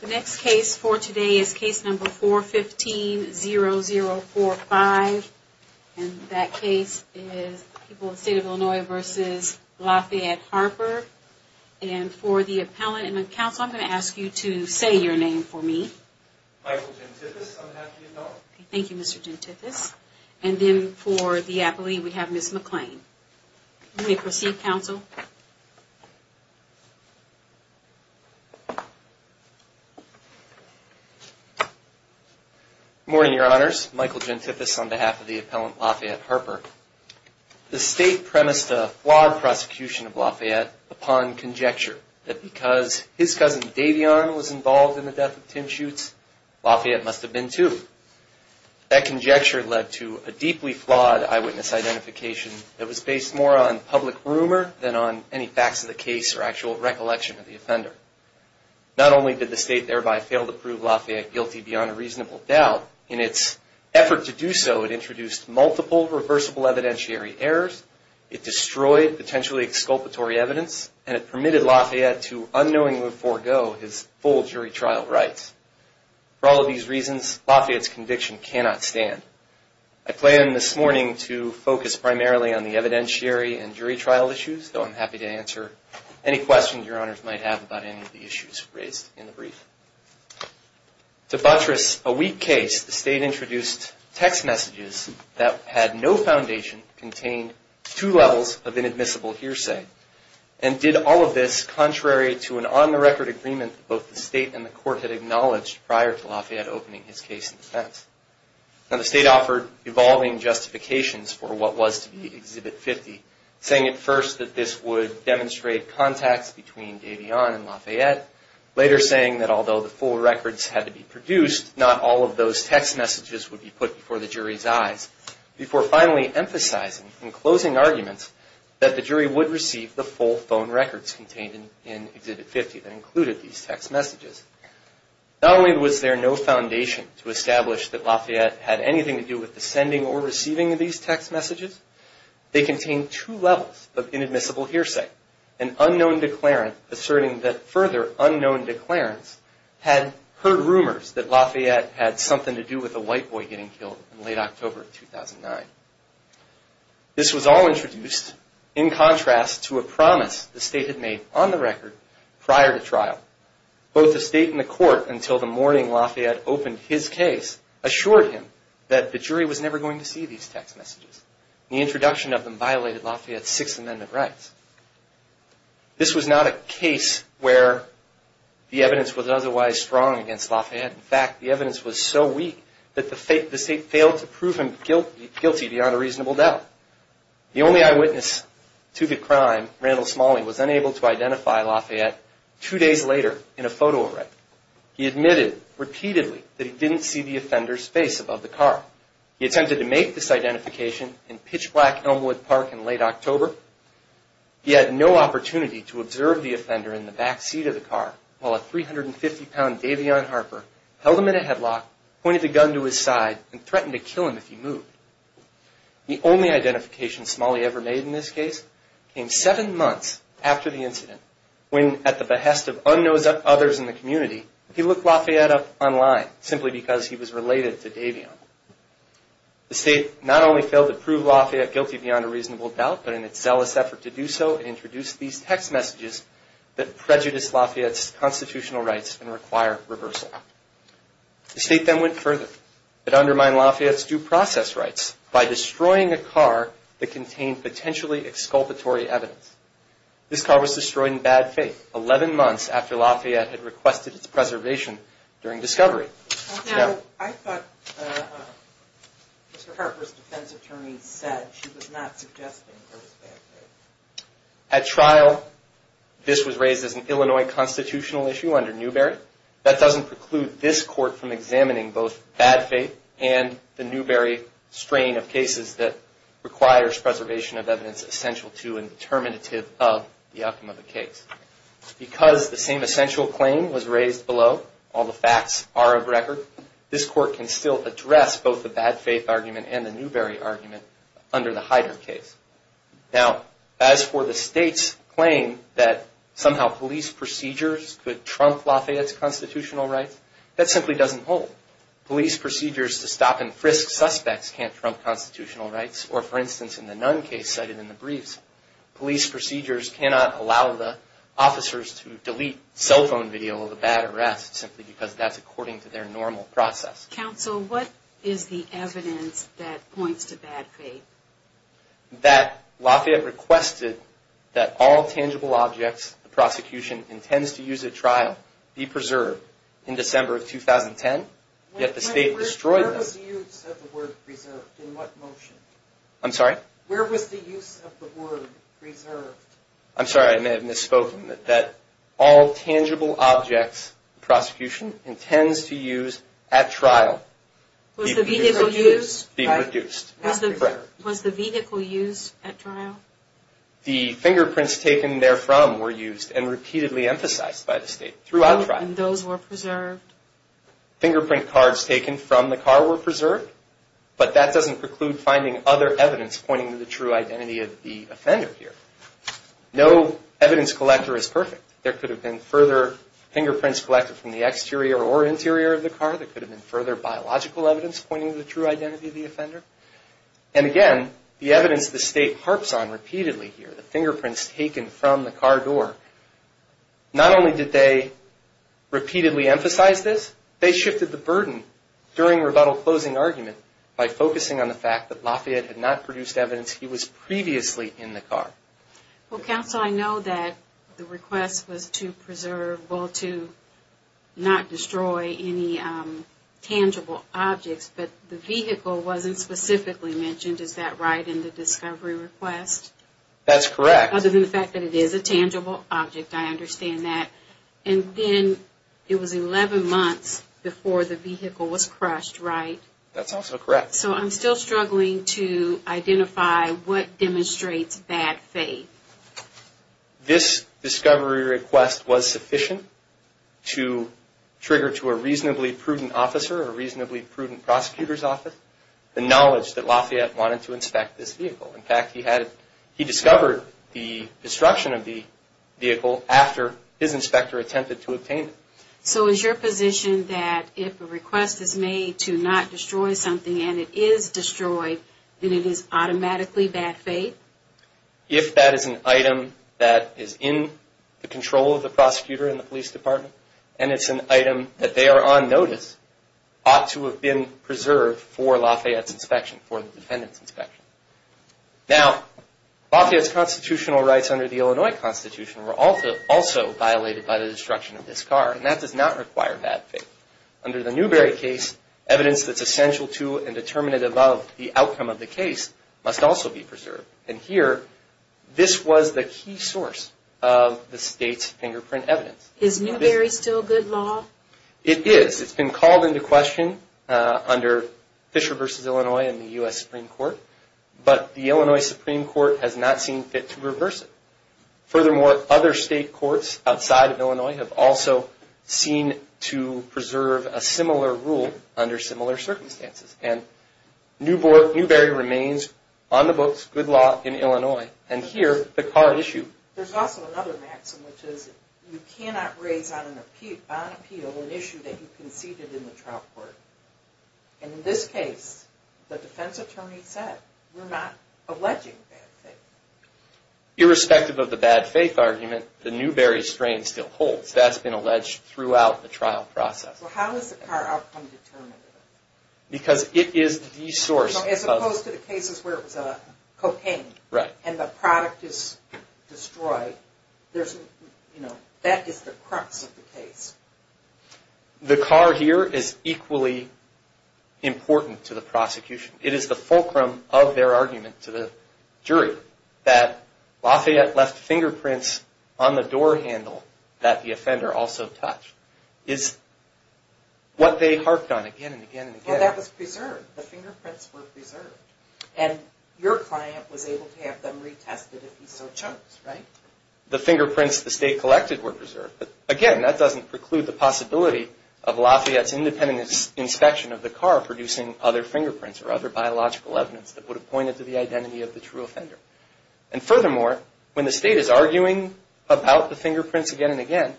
The next case for today is case number 415-0045, and that case is People of the State of Illinois v. Lafayette-Harper. And for the appellant and the counsel, I'm going to ask you to say your name for me. Michael Gentithes, I'm happy to help. Thank you, Mr. Gentithes. And then for the appellee, we have Ms. McClain. You may proceed, counsel. Good morning, Your Honors. Michael Gentithes on behalf of the appellant Lafayette-Harper. The State premised a flawed prosecution of Lafayette upon conjecture that because his cousin Davion was involved in the death of Tim Schuetz, Lafayette must have been too. That conjecture led to a deeply flawed eyewitness identification that was based more on public rumor than on any facts of the case or actual recollection of the offender. Not only did the State thereby fail to prove Lafayette guilty beyond a reasonable doubt, in its effort to do so, it introduced multiple reversible evidentiary errors, it destroyed potentially exculpatory evidence, and it permitted Lafayette to unknowingly forego his full jury trial rights. For all of these reasons, Lafayette's conviction cannot stand. I plan this morning to focus primarily on the evidentiary and jury trial issues, though I'm happy to answer any questions Your Honors might have about any of the issues raised in the brief. To buttress a weak case, the State introduced text messages that had no foundation to contain two levels of inadmissible hearsay, and did all of this contrary to an on-the-record agreement that both the State and the Court had acknowledged prior to Lafayette opening his case in defense. Now, the State offered evolving justifications for what was to be Exhibit 50, saying at first that this would demonstrate contacts between Davion and Lafayette, later saying that although the full records had to be produced, not all of those text messages would be put before the jury's eyes, before finally emphasizing in closing arguments that the jury would receive the full phone records contained in Exhibit 50 that included these text messages. Not only was there no foundation to establish that Lafayette had anything to do with the sending or receiving of these text messages, they contained two levels of inadmissible hearsay, an unknown declarant asserting that further unknown declarants had heard rumors that Lafayette had something to do with a white boy getting killed in late October of 2009. This was all introduced in contrast to a promise the State had made on the record prior to trial. Both the State and the Court, until the morning Lafayette opened his case, assured him that the jury was never going to see these text messages. The introduction of them violated Lafayette's Sixth Amendment rights. This was not a case where the evidence was otherwise strong against Lafayette. In fact, the evidence was so weak that the State failed to prove him guilty beyond a reasonable doubt. The only eyewitness to the crime, Randall Smalley, was unable to identify Lafayette two days later in a photo array. He admitted repeatedly that he didn't see the offender's face above the car. He attempted to make this identification in Pitch Black Elmwood Park in late October. He had no opportunity to observe the offender in the backseat of the car while a 350-pound Davion Harper held him in a headlock, pointed a gun to his side, and threatened to kill him if he moved. The only identification Smalley ever made in this case came seven months after the incident, when, at the behest of unknown others in the community, he looked Lafayette up online, simply because he was related to Davion. The State not only failed to prove Lafayette guilty beyond a reasonable doubt, but in its zealous effort to do so, introduced these text messages that prejudiced Lafayette's constitutional rights and required reversal. The State then went further. It undermined Lafayette's due process rights by destroying a car that contained potentially exculpatory evidence. This car was destroyed in bad faith, 11 months after Lafayette had requested its preservation during discovery. Now, I thought Mr. Harper's defense attorney said she was not suggesting there was bad faith. At trial, this was raised as an Illinois constitutional issue under Newberry. However, that doesn't preclude this Court from examining both bad faith and the Newberry strain of cases that requires preservation of evidence essential to and determinative of the outcome of a case. Because the same essential claim was raised below, all the facts are of record, this Court can still address both the bad faith argument and the Newberry argument under the Heider case. Now, as for the State's claim that somehow police procedures could trump Lafayette's constitutional rights, that simply doesn't hold. Police procedures to stop and frisk suspects can't trump constitutional rights. Or for instance, in the Nunn case cited in the briefs, police procedures cannot allow the officers to delete cell phone video of a bad arrest, simply because that's according to their normal process. Counsel, what is the evidence that points to bad faith? That Lafayette requested that all tangible objects the prosecution intends to use at trial be preserved in December of 2010, yet the State destroyed them. Where was the use of the word preserved? In what motion? I'm sorry? Where was the use of the word preserved? I'm sorry, I may have misspoken. That all tangible objects the prosecution intends to use at trial be reduced. Was the vehicle used at trial? The fingerprints taken therefrom were used and repeatedly emphasized by the State throughout trial. And those were preserved? Fingerprint cards taken from the car were preserved, but that doesn't preclude finding other evidence pointing to the true identity of the offender here. No evidence collector is perfect. There could have been further fingerprints collected from the exterior or interior of the car. There could have been further biological evidence pointing to the true identity of the offender. And again, the evidence the State harps on repeatedly here, the fingerprints taken from the car door, not only did they repeatedly emphasize this, they shifted the burden during rebuttal closing argument by focusing on the fact that Lafayette had not produced evidence he was previously in the car. Well, counsel, I know that the request was to preserve, well, to not destroy any tangible objects, but the vehicle wasn't specifically mentioned. Is that right in the discovery request? That's correct. Other than the fact that it is a tangible object, I understand that. And then it was 11 months before the vehicle was crushed, right? That's also correct. So I'm still struggling to identify what demonstrates bad faith. This discovery request was sufficient to trigger to a reasonably prudent officer or a reasonably prudent prosecutor's office the knowledge that Lafayette wanted to inspect this vehicle. In fact, he discovered the destruction of the vehicle after his inspector attempted to obtain it. So is your position that if a request is made to not destroy something and it is destroyed, then it is automatically bad faith? If that is an item that is in the control of the prosecutor in the police department and it's an item that they are on notice, ought to have been preserved for Lafayette's inspection, for the defendant's inspection. Now, Lafayette's constitutional rights under the Illinois Constitution were also violated by the destruction of this car, and that does not require bad faith. Under the Newbery case, evidence that's essential to and determinative of the outcome of the case must also be preserved. And here, this was the key source of the state's fingerprint evidence. Is Newbery still good law? It is. It's been called into question under Fisher v. Illinois in the U.S. Supreme Court, but the Illinois Supreme Court has not seen fit to reverse it. Furthermore, other state courts outside of Illinois have also seen to preserve a similar rule under similar circumstances. And Newbery remains on the books, good law, in Illinois. And here, the car issue. There's also another maxim, which is you cannot raise on appeal an issue that you conceded in the trial court. And in this case, the defense attorney said, we're not alleging bad faith. Irrespective of the bad faith argument, the Newbery strain still holds. That's been alleged throughout the trial process. How is the car outcome determinative? Because it is the source. As opposed to the cases where it was cocaine and the product is destroyed, that is the crux of the case. The car here is equally important to the prosecution. It is the fulcrum of their argument to the jury that Lafayette left fingerprints on the door handle that the offender also touched is what they harped on again and again and again. Well, that was preserved. The fingerprints were preserved. And your client was able to have them retested if he so chose, right? The fingerprints the state collected were preserved. But again, that doesn't preclude the possibility of Lafayette's independent inspection of the car producing other fingerprints or other biological evidence that would have pointed to the identity of the true offender. And furthermore, when the state is arguing about the fingerprints again and again,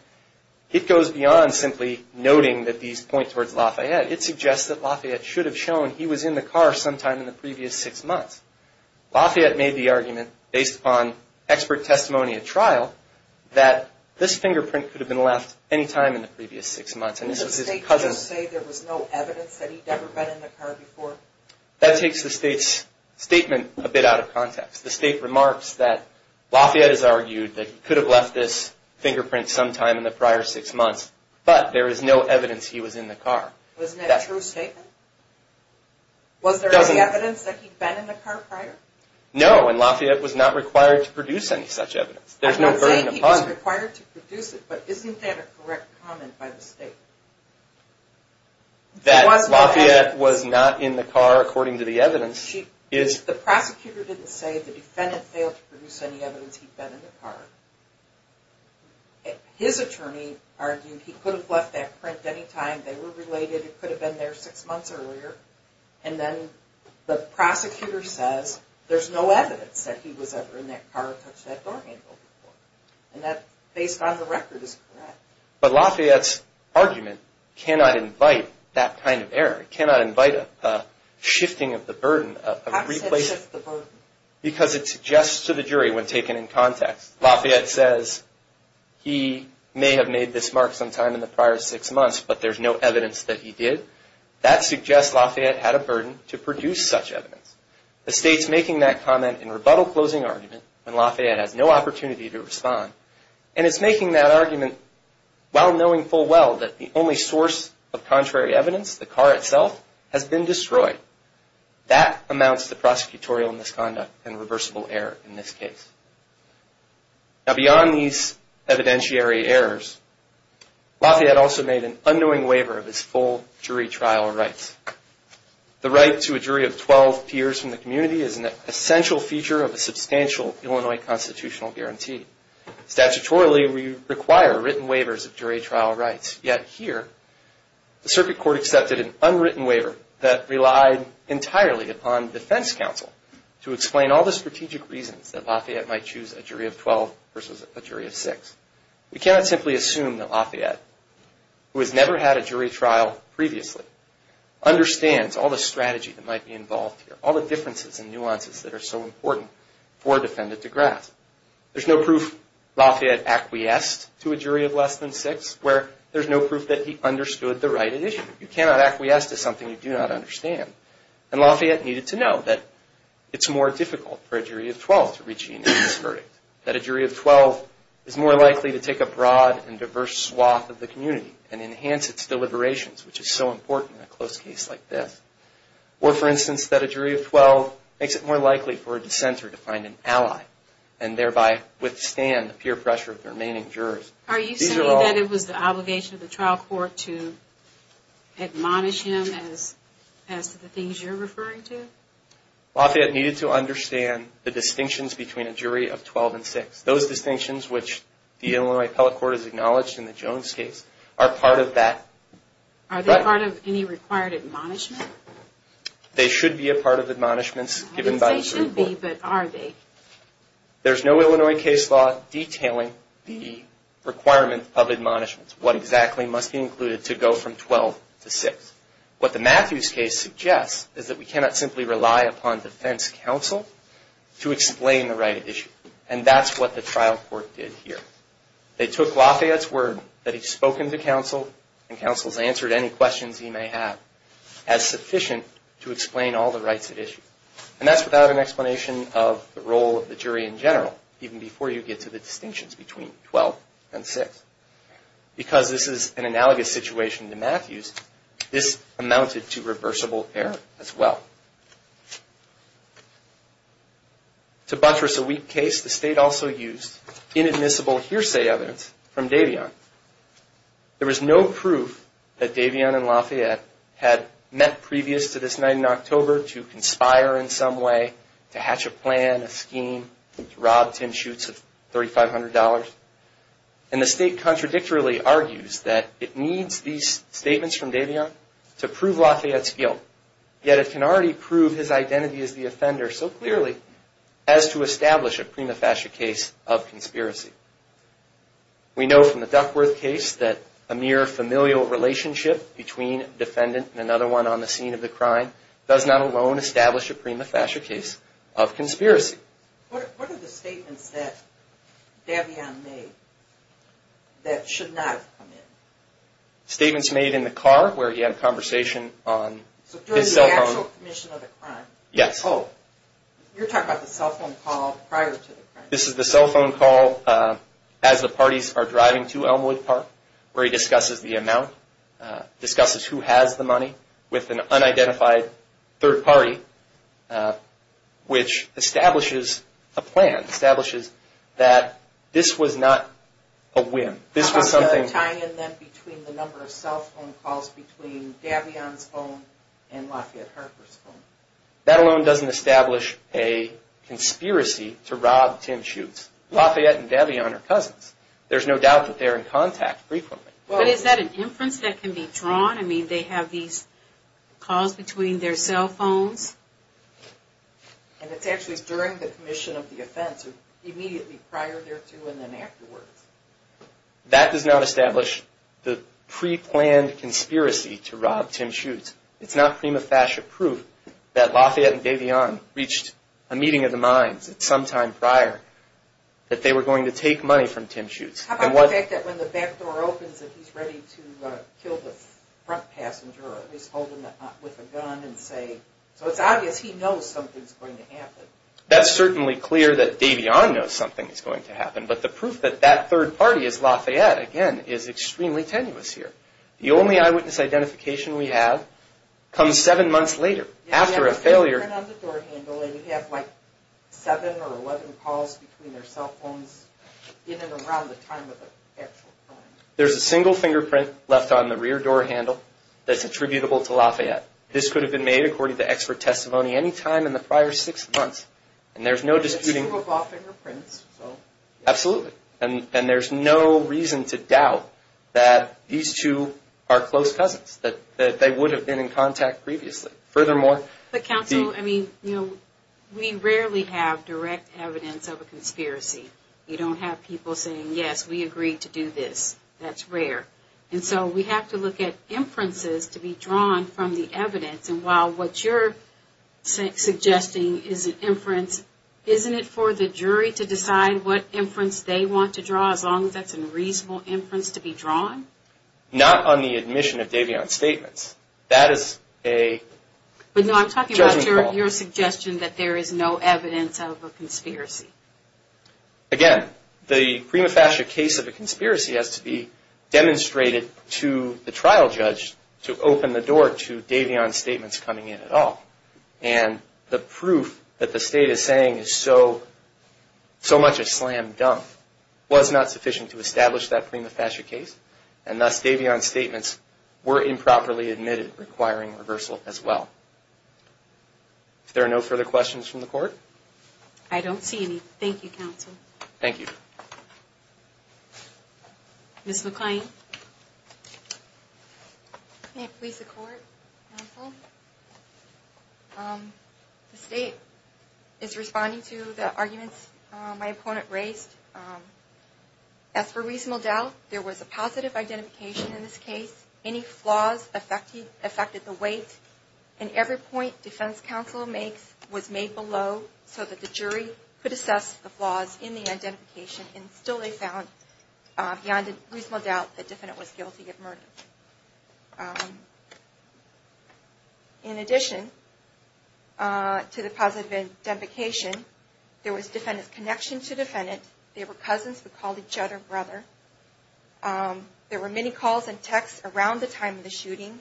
it goes beyond simply noting that these point towards Lafayette. It suggests that Lafayette should have shown he was in the car sometime in the previous six months. Lafayette made the argument based upon expert testimony at trial that this fingerprint could have been left any time in the previous six months. Didn't the state just say there was no evidence that he'd ever been in the car before? That takes the state's statement a bit out of context. The state remarks that Lafayette has argued that he could have left this fingerprint sometime in the prior six months, but there is no evidence he was in the car. Wasn't that a true statement? Was there any evidence that he'd been in the car prior? No, and Lafayette was not required to produce any such evidence. I'm saying he was required to produce it, but isn't that a correct comment by the state? That Lafayette was not in the car according to the evidence? The prosecutor didn't say the defendant failed to produce any evidence he'd been in the car. His attorney argued he could have left that print any time they were related. It could have been there six months earlier. And then the prosecutor says there's no evidence that he was ever in that car or touched that door handle before. And that, based on the record, is correct. But Lafayette's argument cannot invite that kind of error. It cannot invite a shifting of the burden. How does it shift the burden? Because it suggests to the jury, when taken in context, Lafayette says he may have made this mark sometime in the prior six months, but there's no evidence that he did. That suggests Lafayette had a burden to produce such evidence. The state's making that comment in rebuttal closing argument when Lafayette has no opportunity to respond. And it's making that argument while knowing full well that the only source of contrary evidence, the car itself, has been destroyed. That amounts to prosecutorial misconduct and reversible error in this case. Now, beyond these evidentiary errors, Lafayette also made an unknowing waiver of his full jury trial rights. The right to a jury of 12 peers from the community is an essential feature of a substantial Illinois constitutional guarantee. Statutorily, we require written waivers of jury trial rights. Yet here, the circuit court accepted an unwritten waiver that relied entirely upon defense counsel to explain all the strategic reasons that Lafayette might choose a jury of 12 versus a jury of six. We cannot simply assume that Lafayette, who has never had a jury trial previously, understands all the strategy that might be involved here, all the differences and nuances that are so important for a defendant to grasp. There's no proof Lafayette acquiesced to a jury of less than six where there's no proof that he understood the right at issue. You cannot acquiesce to something you do not understand. And Lafayette needed to know that it's more difficult for a jury of 12 to reach a unanimous verdict, that a jury of 12 is more likely to take a broad and diverse swath of the community and enhance its deliberations, which is so important in a close case like this. Or, for instance, that a jury of 12 makes it more likely for a dissenter to find an ally and thereby withstand the peer pressure of the remaining jurors. Are you saying that it was the obligation of the trial court to admonish him as to the things you're referring to? Lafayette needed to understand the distinctions between a jury of 12 and six. Those distinctions, which the Illinois appellate court has acknowledged in the Jones case, are part of that. Are they part of any required admonishment? They should be a part of admonishments given by the Supreme Court. I didn't say should be, but are they? There's no Illinois case law detailing the requirement of admonishments, what exactly must be included to go from 12 to six. What the Matthews case suggests is that we cannot simply rely upon defense counsel to explain the right at issue. And that's what the trial court did here. They took Lafayette's word that he's spoken to counsel and counsel's answered any questions he may have as sufficient to explain all the rights at issue. And that's without an explanation of the role of the jury in general, even before you get to the distinctions between 12 and six. Because this is an analogous situation to Matthews, this amounted to reversible error as well. To buttress a weak case, the state also used inadmissible hearsay evidence from Davion. There was no proof that Davion and Lafayette had met previous to this night in October to conspire in some way, to hatch a plan, a scheme, to rob Tim Schutz of $3,500. And the state contradictorily argues that it needs these statements from Davion to prove Lafayette's guilt. Yet it can already prove his identity as the offender so clearly as to establish a prima facie case of conspiracy. We know from the Duckworth case that a mere familial relationship between a defendant and another one on the scene of the crime does not alone establish a prima facie case of conspiracy. What are the statements that Davion made that should not have come in? Statements made in the car where he had a conversation on his cell phone. So during the actual commission of the crime? Yes. Oh, you're talking about the cell phone call prior to the crime. This is the cell phone call as the parties are driving to Elmwood Park where he discusses the amount, discusses who has the money with an unidentified third party which establishes a plan, establishes that this was not a whim. How about the tie-in then between the number of cell phone calls between Davion's phone and Lafayette Harper's phone? That alone doesn't establish a conspiracy to rob Tim Schutz. Lafayette and Davion are cousins. There's no doubt that they're in contact frequently. But is that an inference that can be drawn? I mean, they have these calls between their cell phones? And it's actually during the commission of the offense or immediately prior to and then afterwards. That does not establish the pre-planned conspiracy to rob Tim Schutz. It's not prima facie proof that Lafayette and Davion reached a meeting of the minds at some time prior that they were going to take money from Tim Schutz. How about the fact that when the back door opens that he's ready to kill the front passenger or at least hold him with a gun and say, so it's obvious he knows something's going to happen. That's certainly clear that Davion knows something is going to happen. But the proof that that third party is Lafayette, again, is extremely tenuous here. The only eyewitness identification we have comes seven months later after a failure. They have a fingerprint on the door handle and you have like seven or eleven calls between their cell phones in and around the time of the actual crime. There's a single fingerprint left on the rear door handle that's attributable to Lafayette. This could have been made according to expert testimony any time in the prior six months. And there's no disputing. It's two of off fingerprints, so. Absolutely. And there's no reason to doubt that these two are close cousins, that they would have been in contact previously. Furthermore. But counsel, I mean, you know, we rarely have direct evidence of a conspiracy. You don't have people saying, yes, we agreed to do this. That's rare. And so we have to look at inferences to be drawn from the evidence. And while what you're suggesting is an inference, isn't it for the jury to decide what inference they want to draw, as long as that's a reasonable inference to be drawn? Not on the admission of Davion statements. That is a judgment call. But no, I'm talking about your suggestion that there is no evidence of a conspiracy. Again, the prima facie case of a conspiracy has to be demonstrated to the trial judge to open the door to Davion statements coming in at all. And the proof that the state is saying is so much a slam dunk was not sufficient to establish that prima facie case. And thus, Davion statements were improperly admitted requiring reversal as well. If there are no further questions from the court. I don't see any. Thank you, counsel. Thank you. Ms. McClain. May it please the court, counsel. The state is responding to the arguments my opponent raised. As for reasonable doubt, there was a positive identification in this case. Any flaws affected the weight. And every point defense counsel makes was made below so that the jury could assess the flaws in the identification. And still they found beyond reasonable doubt that the defendant was guilty of murder. In addition to the positive identification, there was defendant's connection to defendant. They were cousins who called each other brother. There were many calls and texts around the time of the shooting.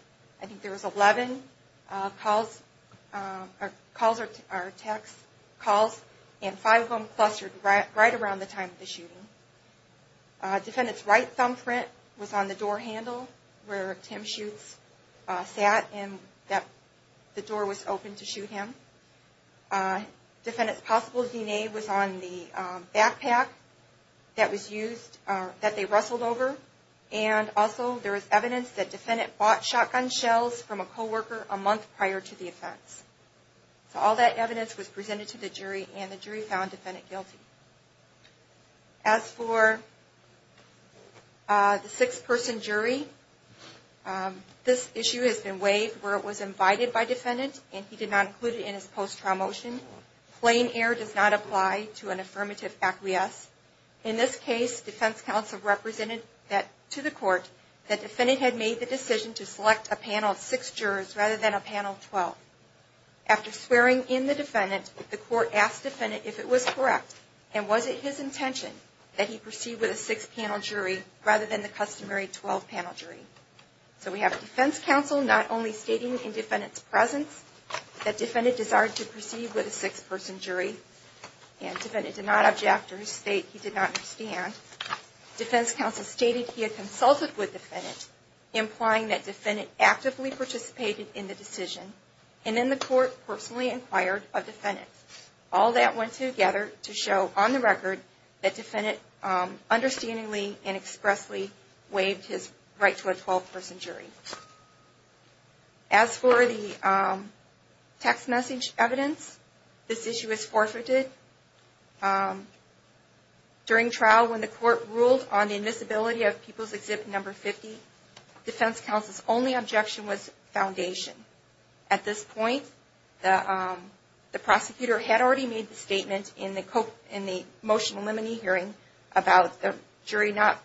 And five of them clustered right around the time of the shooting. Defendant's right thumbprint was on the door handle where Tim Schutz sat and the door was open to shoot him. Defendant's possible DNA was on the backpack that they wrestled over. And also there was evidence that defendant bought shotgun shells from a co-worker a month prior to the offense. So all that evidence was presented to the jury and the jury found defendant guilty. As for the six-person jury, this issue has been waived where it was invited by defendant and he did not include it in his post-trial motion. Plain error does not apply to an affirmative acquiesce. In this case, defense counsel represented to the court that defendant had made the decision to select a panel of six jurors rather than a panel of 12. After swearing in the defendant, the court asked defendant if it was correct and was it his intention that he proceed with a six-panel jury rather than the customary 12-panel jury. So we have defense counsel not only stating in defendant's presence that defendant desired to proceed with a six-person jury and defendant did not object to his state, he did not understand. Defense counsel stated he had consulted with defendant, implying that defendant actively participated in the decision and then the court personally inquired of defendant. All that went together to show on the record that defendant understandingly and expressly waived his right to a 12-person jury. As for the text message evidence, this issue is forfeited. During trial when the court ruled on the invisibility of people's exhibit number 50, defense counsel's only objection was foundation. At this point, the prosecutor had already made the statement in the motion limiting hearing about the jury not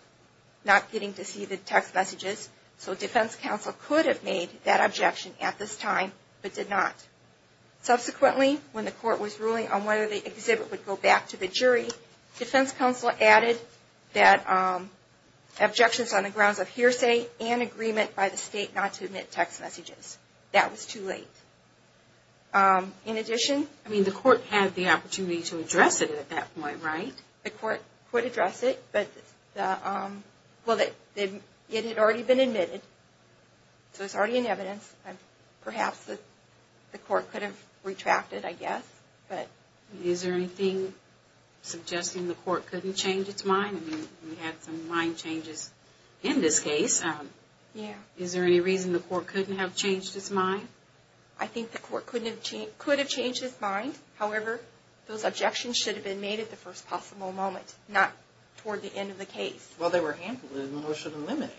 getting to see the text messages, so defense counsel could have made that objection at this time but did not. Subsequently, when the court was ruling on whether the exhibit number 50 would go back to the jury, defense counsel added that objections on the grounds of hearsay and agreement by the state not to admit text messages. That was too late. In addition... I mean, the court had the opportunity to address it at that point, right? The court could address it, but it had already been admitted, so it's already in evidence. Perhaps the court could have retracted, I guess. Is there anything suggesting the court couldn't change its mind? I mean, we had some mind changes in this case. Is there any reason the court couldn't have changed its mind? I think the court could have changed its mind. However, those objections should have been made at the first possible moment, not toward the end of the case. Well, they were handled in the motion limiting.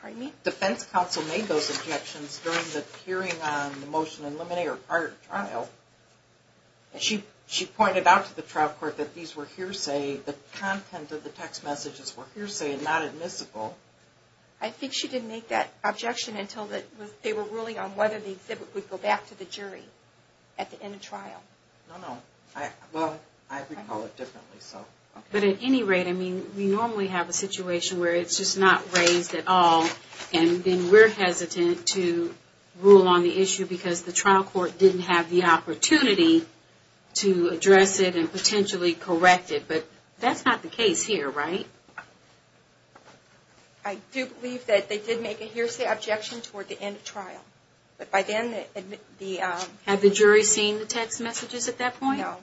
Pardon me? The defense counsel made those objections during the hearing on the motion in limiting or prior to trial. She pointed out to the trial court that these were hearsay, the content of the text messages were hearsay and not admissible. I think she didn't make that objection until they were ruling on whether the exhibit would go back to the jury at the end of trial. No, no. Well, I recall it differently. But at any rate, I mean, we normally have a situation where it's just not raised at all and then we're hesitant to rule on the issue because the trial court didn't have the opportunity to address it and potentially correct it. But that's not the case here, right? I do believe that they did make a hearsay objection toward the end of trial. But by then the... Had the jury seen the text messages at that point? No.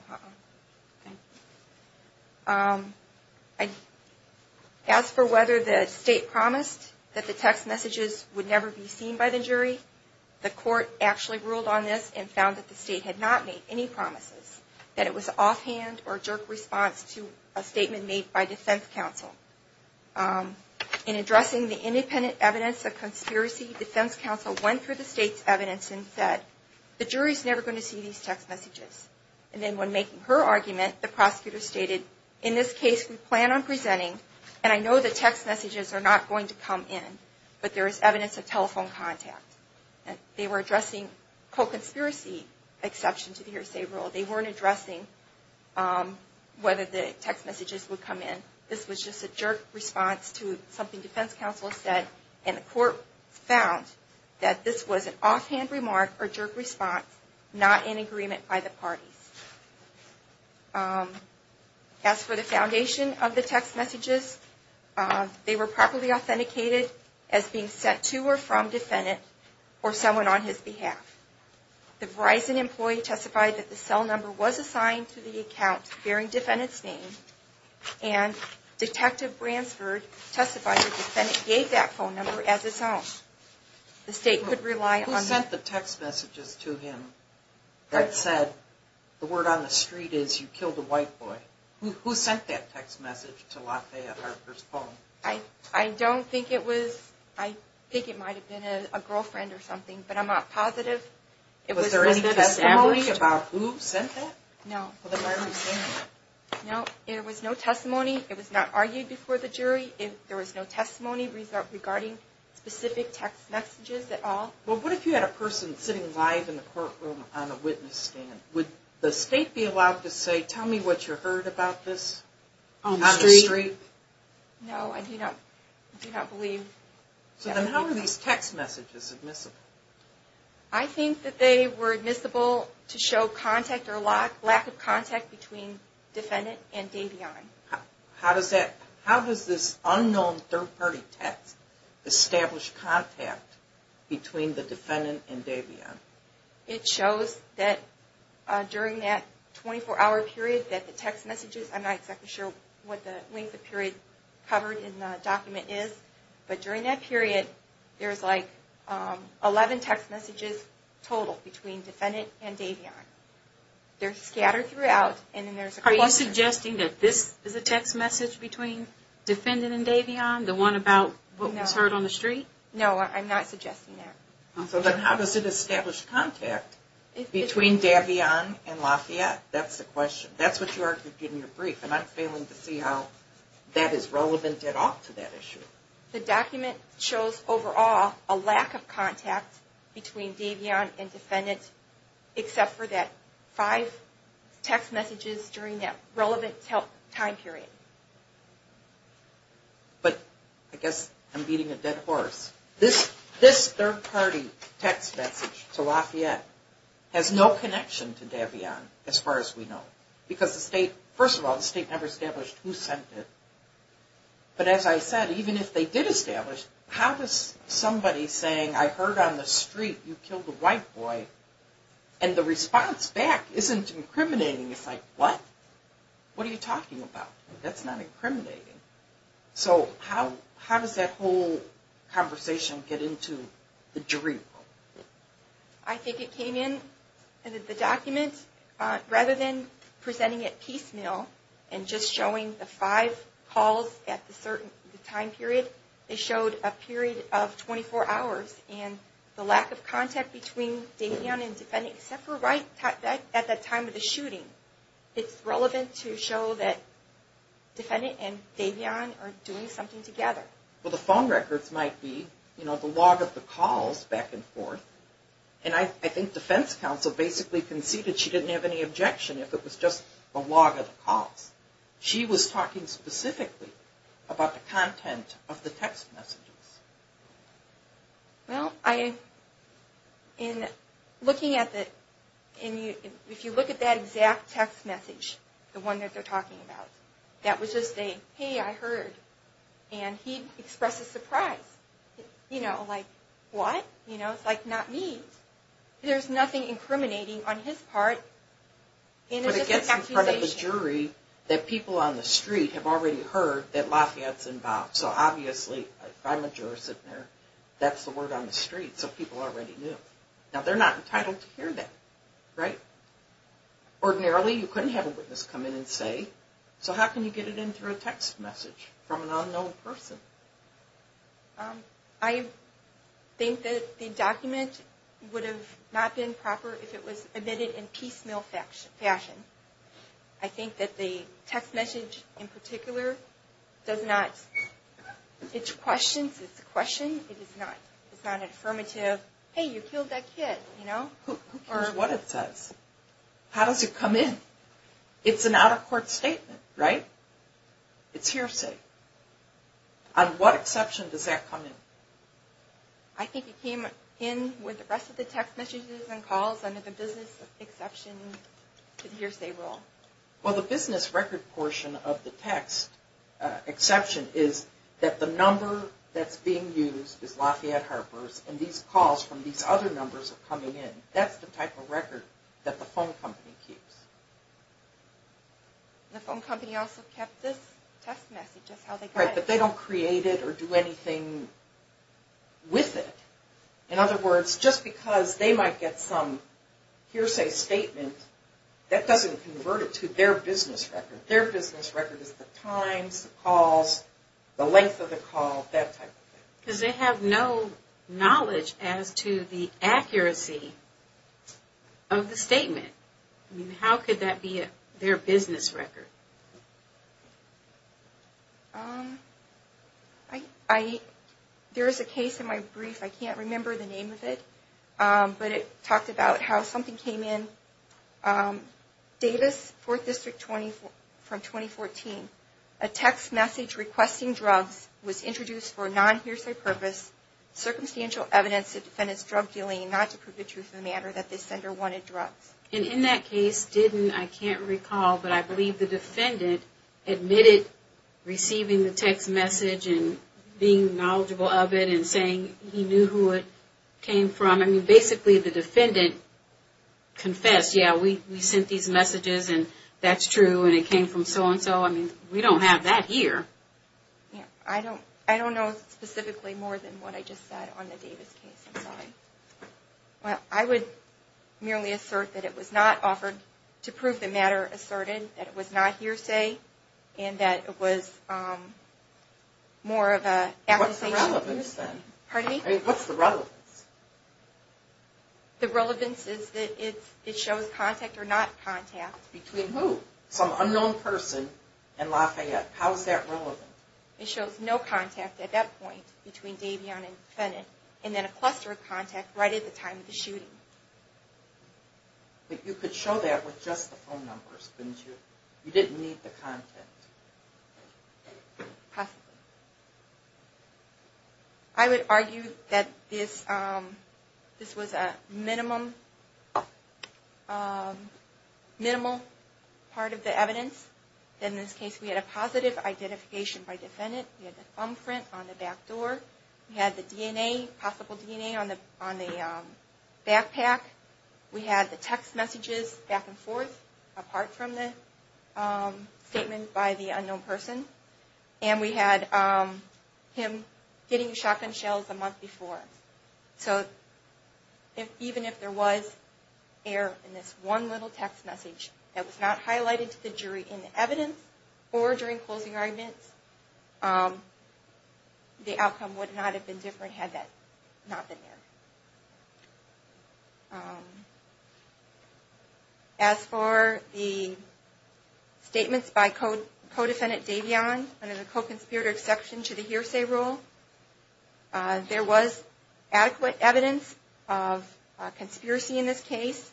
As for whether the state promised that the text messages would never be seen by the jury, the court actually ruled on this and found that the state had not made any promises, that it was offhand or jerk response to a statement made by defense counsel. In addressing the independent evidence of conspiracy, defense counsel went through the state's evidence and said, the jury's never going to see these text messages. And then when making her argument, the prosecutor stated, in this case we plan on presenting, and I know the text messages are not going to come in, but there is evidence of telephone contact. They were addressing co-conspiracy exception to the hearsay rule. They weren't addressing whether the text messages would come in. This was just a jerk response to something defense counsel said, and the court found that this was an offhand remark or jerk response, not in agreement by the parties. As for the foundation of the text messages, they were properly authenticated as being sent to or from defendant or someone on his behalf. The Verizon employee testified that the cell number was assigned to the account bearing defendant's name, and Detective Bransford testified that the defendant gave that phone number as his own. The state could rely on that. Who sent the text messages to him that said, the word on the street is, you killed a white boy? Who sent that text message to LaFayette Harper's phone? I don't think it was, I think it might have been a girlfriend or something, but I'm not positive. Was there any testimony about who sent that? No. No, there was no testimony. It was not argued before the jury. There was no testimony regarding specific text messages at all. Well, what if you had a person sitting live in the courtroom on a witness stand? Would the state be allowed to say, tell me what you heard about this on the street? No, I do not believe that. So then how were these text messages admissible? I think that they were admissible to show contact or lack of contact between defendant and Davion. How does this unknown third party text establish contact between the defendant and Davion? It shows that during that 24-hour period that the text messages, I'm not exactly sure what the length of period covered in the document is, but during that period there's like 11 text messages total between defendant and Davion. They're scattered throughout. Are you suggesting that this is a text message between defendant and Davion, the one about what was heard on the street? No, I'm not suggesting that. So then how does it establish contact between Davion and LaFayette? That's the question. That's what you argued in your brief, and I'm failing to see how that is relevant at all to that issue. The document shows overall a lack of contact between Davion and defendant except for that five text messages during that relevant time period. But I guess I'm beating a dead horse. This third party text message to LaFayette has no connection to Davion as far as we know because, first of all, the state never established who sent it. But as I said, even if they did establish, how does somebody saying, I heard on the street you killed a white boy, and the response back isn't incriminating. It's like, what? What are you talking about? That's not incriminating. So how does that whole conversation get into the jury? I think it came in in the document, rather than presenting it piecemeal and just showing the five calls at the time period, they showed a period of 24 hours and the lack of contact between Davion and defendant except for right at the time of the shooting. It's relevant to show that defendant and Davion are doing something together. Well, the phone records might be the log of the calls back and forth. And I think defense counsel basically conceded she didn't have any objection if it was just a log of the calls. She was talking specifically about the content of the text messages. Well, if you look at that exact text message, the one that they're talking about, that was just a, hey, I heard. And he expressed a surprise. You know, like, what? It's like, not me. There's nothing incriminating on his part. But it gets in front of the jury that people on the street have already heard that Lafayette's involved. So obviously, if I'm a juror sitting there, that's the word on the street. So people already knew. Now, they're not entitled to hear that, right? Ordinarily, you couldn't have a witness come in and say, so how can you get it in through a text message from an unknown person? I think that the document would have not been proper if it was admitted in piecemeal fashion. I think that the text message in particular does not, it's questions. It's a question. It is not. It's not an affirmative, hey, you killed that kid, you know? Who cares what it says? How does it come in? It's an out-of-court statement, right? It's hearsay. On what exception does that come in? I think it came in with the rest of the text messages and calls under the business exception to the hearsay rule. Well, the business record portion of the text exception is that the number that's being used is Lafayette Harper's, and these calls from these other numbers are coming in. That's the type of record that the phone company keeps. The phone company also kept this text message. Right, but they don't create it or do anything with it. In other words, just because they might get some hearsay statement, that doesn't convert it to their business record. Their business record is the times, the calls, the length of the call, that type of thing. Because they have no knowledge as to the accuracy of the statement. How could that be their business record? There is a case in my brief, I can't remember the name of it, but it talked about how something came in. Davis, 4th District from 2014. A text message requesting drugs was introduced for a non-hearsay purpose, circumstantial evidence to defend its drug dealing, and not to prove the truth of the matter that the sender wanted drugs. In that case, I can't recall, but I believe the defendant admitted receiving the text message and being knowledgeable of it and saying he knew who it came from. Basically, the defendant confessed, yeah, we sent these messages and that's true and it came from so and so. We don't have that here. I don't know specifically more than what I just said on the Davis case. I'm sorry. I would merely assert that it was not offered to prove the matter asserted, that it was not hearsay, and that it was more of an accusation. What's the relevance then? Pardon me? What's the relevance? The relevance is that it shows contact or not contact. Between who? Some unknown person and Lafayette. How is that relevant? It shows no contact at that point between Davion and the defendant and then a cluster of contact right at the time of the shooting. But you could show that with just the phone numbers, couldn't you? You didn't need the contact. Possibly. I would argue that this was a minimal part of the evidence. In this case, we had a positive identification by defendant. We had the thumbprint on the back door. We had the DNA, possible DNA, on the backpack. We had the text messages back and forth apart from the statement by the him getting shotgun shells a month before. So even if there was error in this one little text message that was not highlighted to the jury in the evidence or during closing arguments, the outcome would not have been different had that not been there. As for the statements by co-defendant Davion, under the co-conspirator exception to the hearsay rule, there was adequate evidence of conspiracy in this case.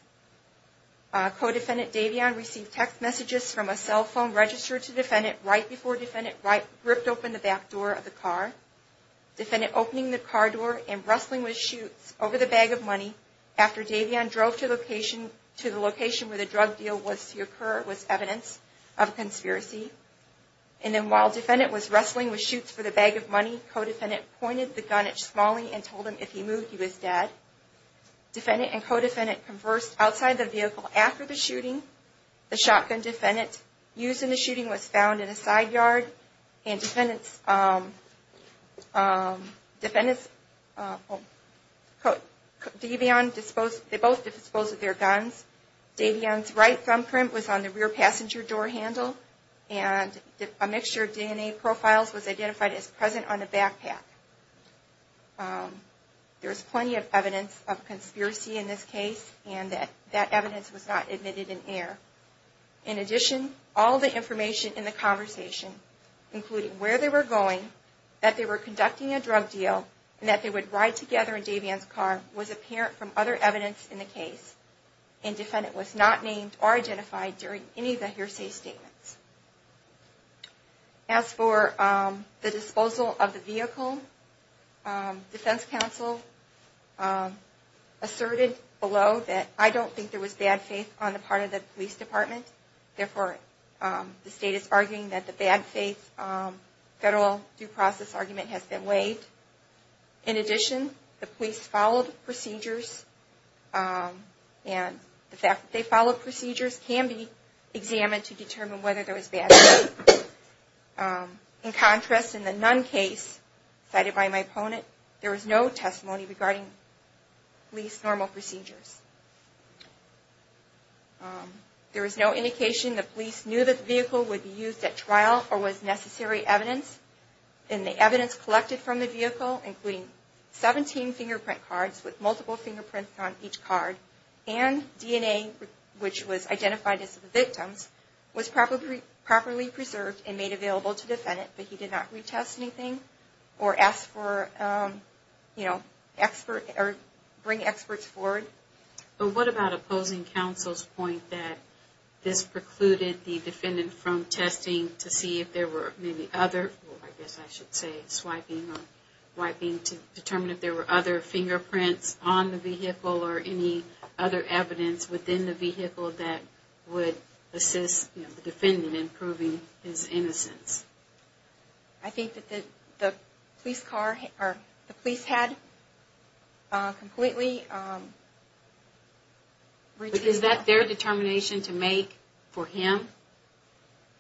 Co-defendant Davion received text messages from a cell phone registered to defendant right before defendant ripped open the back door of the car. Defendant opening the car door and rustling with shoes, koi pinning, shooting and moving the allowable evidence over the bag of money after Davion drove to the location where the drug deal was to occur was evidence of conspiracy. Then while defendant was rustling with shoots for the bag of money, co-defendant pointed the gun at Smalley and told him if he moved, he was dangerously dead. Defendant and co-defendant conversed outside the vehicle after the shooting. The shotgun defendant used in the shooting was found in a side yard and defendants, um, um, defendants, uh, oh, Davion disposed, they both disposed of their guns. Davion's right thumb print was on the rear passenger door handle and a mixture of DNA profiles was identified as present on the backpack. Um, there's plenty of evidence of conspiracy in this case and that that evidence was not admitted in air. In addition, all the information in the conversation, including where they were going, that they were conducting a drug deal and that they would ride together in Davion's car was apparent from other evidence in the case and defendant was not named or identified during any of the hearsay statements. As for, um, the disposal of the vehicle, um, defense counsel, um, asserted below that I don't think there was bad faith on the part of the police department. Therefore, um, the state is arguing that the bad faith, um, federal due process argument has been waived. In addition, the police followed procedures, um, and the fact that they followed procedures can be examined to determine whether there was bad faith. Um, in contrast, in the Nunn case cited by my opponent, there was no testimony regarding police normal procedures. Um, there was no indication the police knew that the vehicle would be used at trial or was necessary evidence and the evidence collected from the vehicle, including 17 fingerprint cards with multiple fingerprints on each card and DNA, which was identified as the victim's, was probably properly preserved and made available to defend it, but he did not retest anything or ask for, um, you know, expert or bring experts forward. But what about opposing counsel's point that this precluded the defendant from testing to see if there were many other, I guess I should say swiping or wiping to determine if there were other fingerprints on the vehicle or any other evidence within the vehicle that would assist the defendant in proving his innocence? I think that the, the police car or the police had, uh, completely, um. Is that their determination to make for him?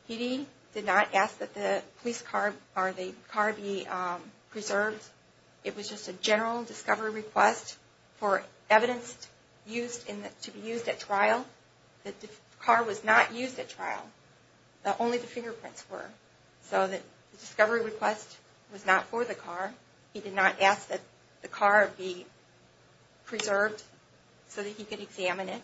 He did not ask that the police car or the car be, um, preserved. It was just a general discovery request for evidence used in the, to be used at trial. The car was not used at trial. Only the fingerprints were. So the discovery request was not for the car. He did not ask that the car be preserved so that he could examine it.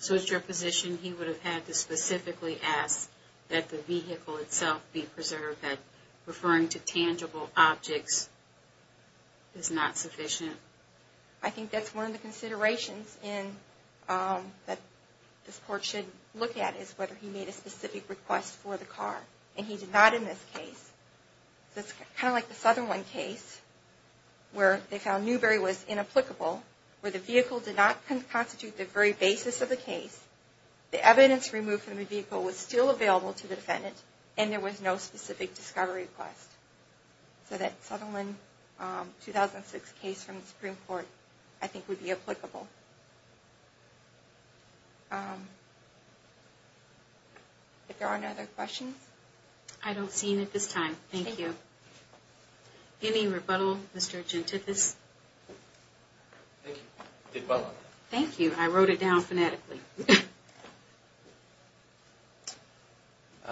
So it's your position he would have had to specifically ask that the vehicle itself be preserved, that referring to tangible objects is not sufficient? I think that's one of the considerations in, um, that this court should look at is whether he made a specific request for the car. And he did not in this case. So it's kind of like the Sutherland case where they found Newberry was inapplicable, where the vehicle did not constitute the very basis of the case. The evidence removed from the vehicle was still available to the defendant and there was no specific discovery request. So that Sutherland, um, 2006 case from the Supreme Court I think would be applicable. Um, if there are no other questions. I don't see any at this time. Thank you. Any rebuttal, Mr. Gentithis? Thank you. Thank you. I wrote it down phonetically.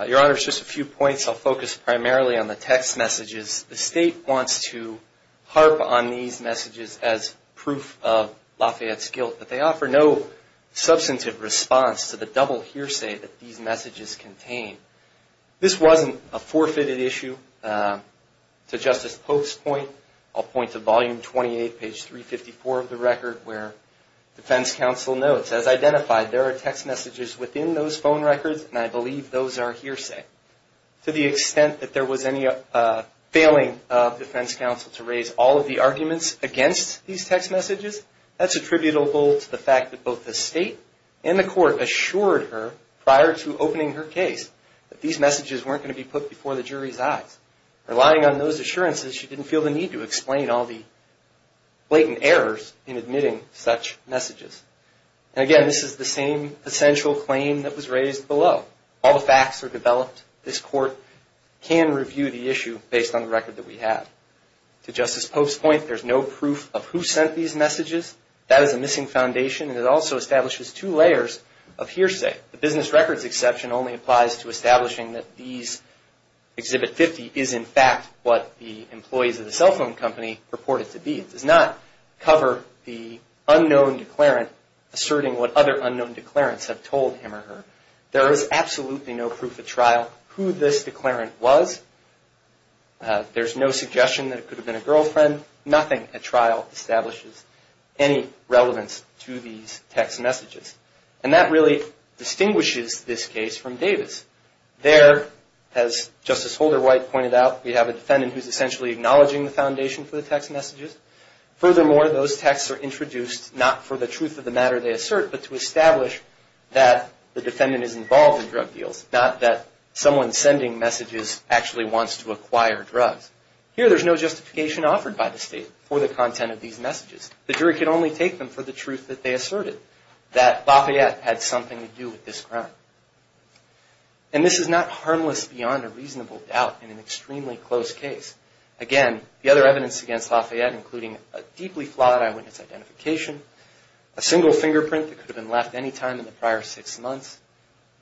Your Honor, just a few points. I'll focus primarily on the text messages. The state wants to harp on these messages as proof of Lafayette's guilt, but they offer no substantive response to the double hearsay that these messages contain. This wasn't a forfeited issue, um, to Justice Pope's point. I'll point to volume 28, page 354 of the record where defense counsel notes as identified, there are text messages within those phone records. And I believe those are hearsay. To the extent that there was any, uh, failing, uh, defense counsel to raise all of the arguments against these text messages, that's attributable to the fact that both the state and the court assured her prior to opening her case that these messages weren't going to be put before the jury's eyes. Relying on those assurances, she didn't feel the need to explain all the blatant errors in admitting such messages. And again, this is the same essential claim that was raised below. All the facts are developed. This court can review the issue based on the record that we have. To Justice Pope's point, there's no proof of who sent these messages. That is a missing foundation. And it also establishes two layers of hearsay. The business records exception only applies to establishing that these Exhibit 50 is in fact what the employees of the cell phone company reported to be. It does not cover the unknown declarant asserting what other unknown declarants have told him or her. There is absolutely no proof at trial who this declarant was. Uh, there's no suggestion that it could have been a girlfriend. Nothing at trial establishes any relevance to these text messages. And that really distinguishes this case from Davis. There, as Justice Holder White pointed out, we have a defendant who's essentially acknowledging the foundation for the case. Furthermore, those texts are introduced not for the truth of the matter they assert, but to establish that the defendant is involved in drug deals, not that someone sending messages actually wants to acquire drugs. Here, there's no justification offered by the state for the content of these messages. The jury can only take them for the truth that they asserted that Lafayette had something to do with this crime. And this is not harmless beyond a reasonable doubt in an extremely close case. Again, the other evidence against Lafayette including a deeply flawed eyewitness identification, a single fingerprint that could have been left any time in the prior six months,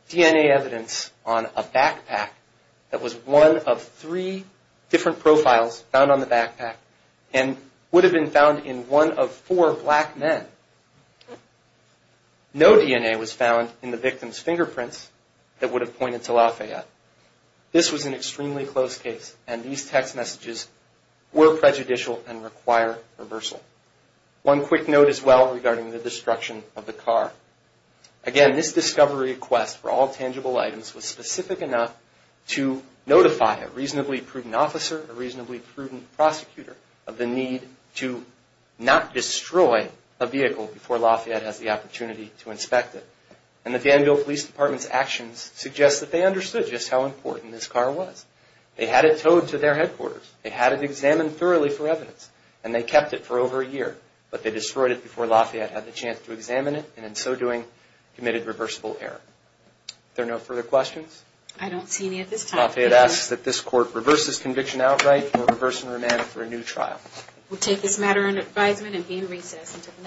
DNA evidence on a backpack that was one of three different profiles found on the backpack and would have been found in one of four black men. No DNA was found in the victim's fingerprints that would have pointed to Lafayette. This was an extremely close case. And these text messages were prejudicial and require reversal. One quick note as well regarding the destruction of the car. Again, this discovery request for all tangible items was specific enough to notify a reasonably prudent officer, a reasonably prudent prosecutor of the need to not destroy a vehicle before Lafayette has the opportunity to inspect it. And the Danville Police Department's actions suggest that they understood just how important this car was. They had it towed to their headquarters. They had it examined thoroughly for evidence and they kept it for over a year. But they destroyed it before Lafayette had the chance to examine it and in so doing committed reversible error. Are there no further questions? I don't see any at this time. Lafayette asks that this court reverse this conviction outright or reverse and remand it for a new trial. We'll take this matter under advisement and be in recess until the next meeting.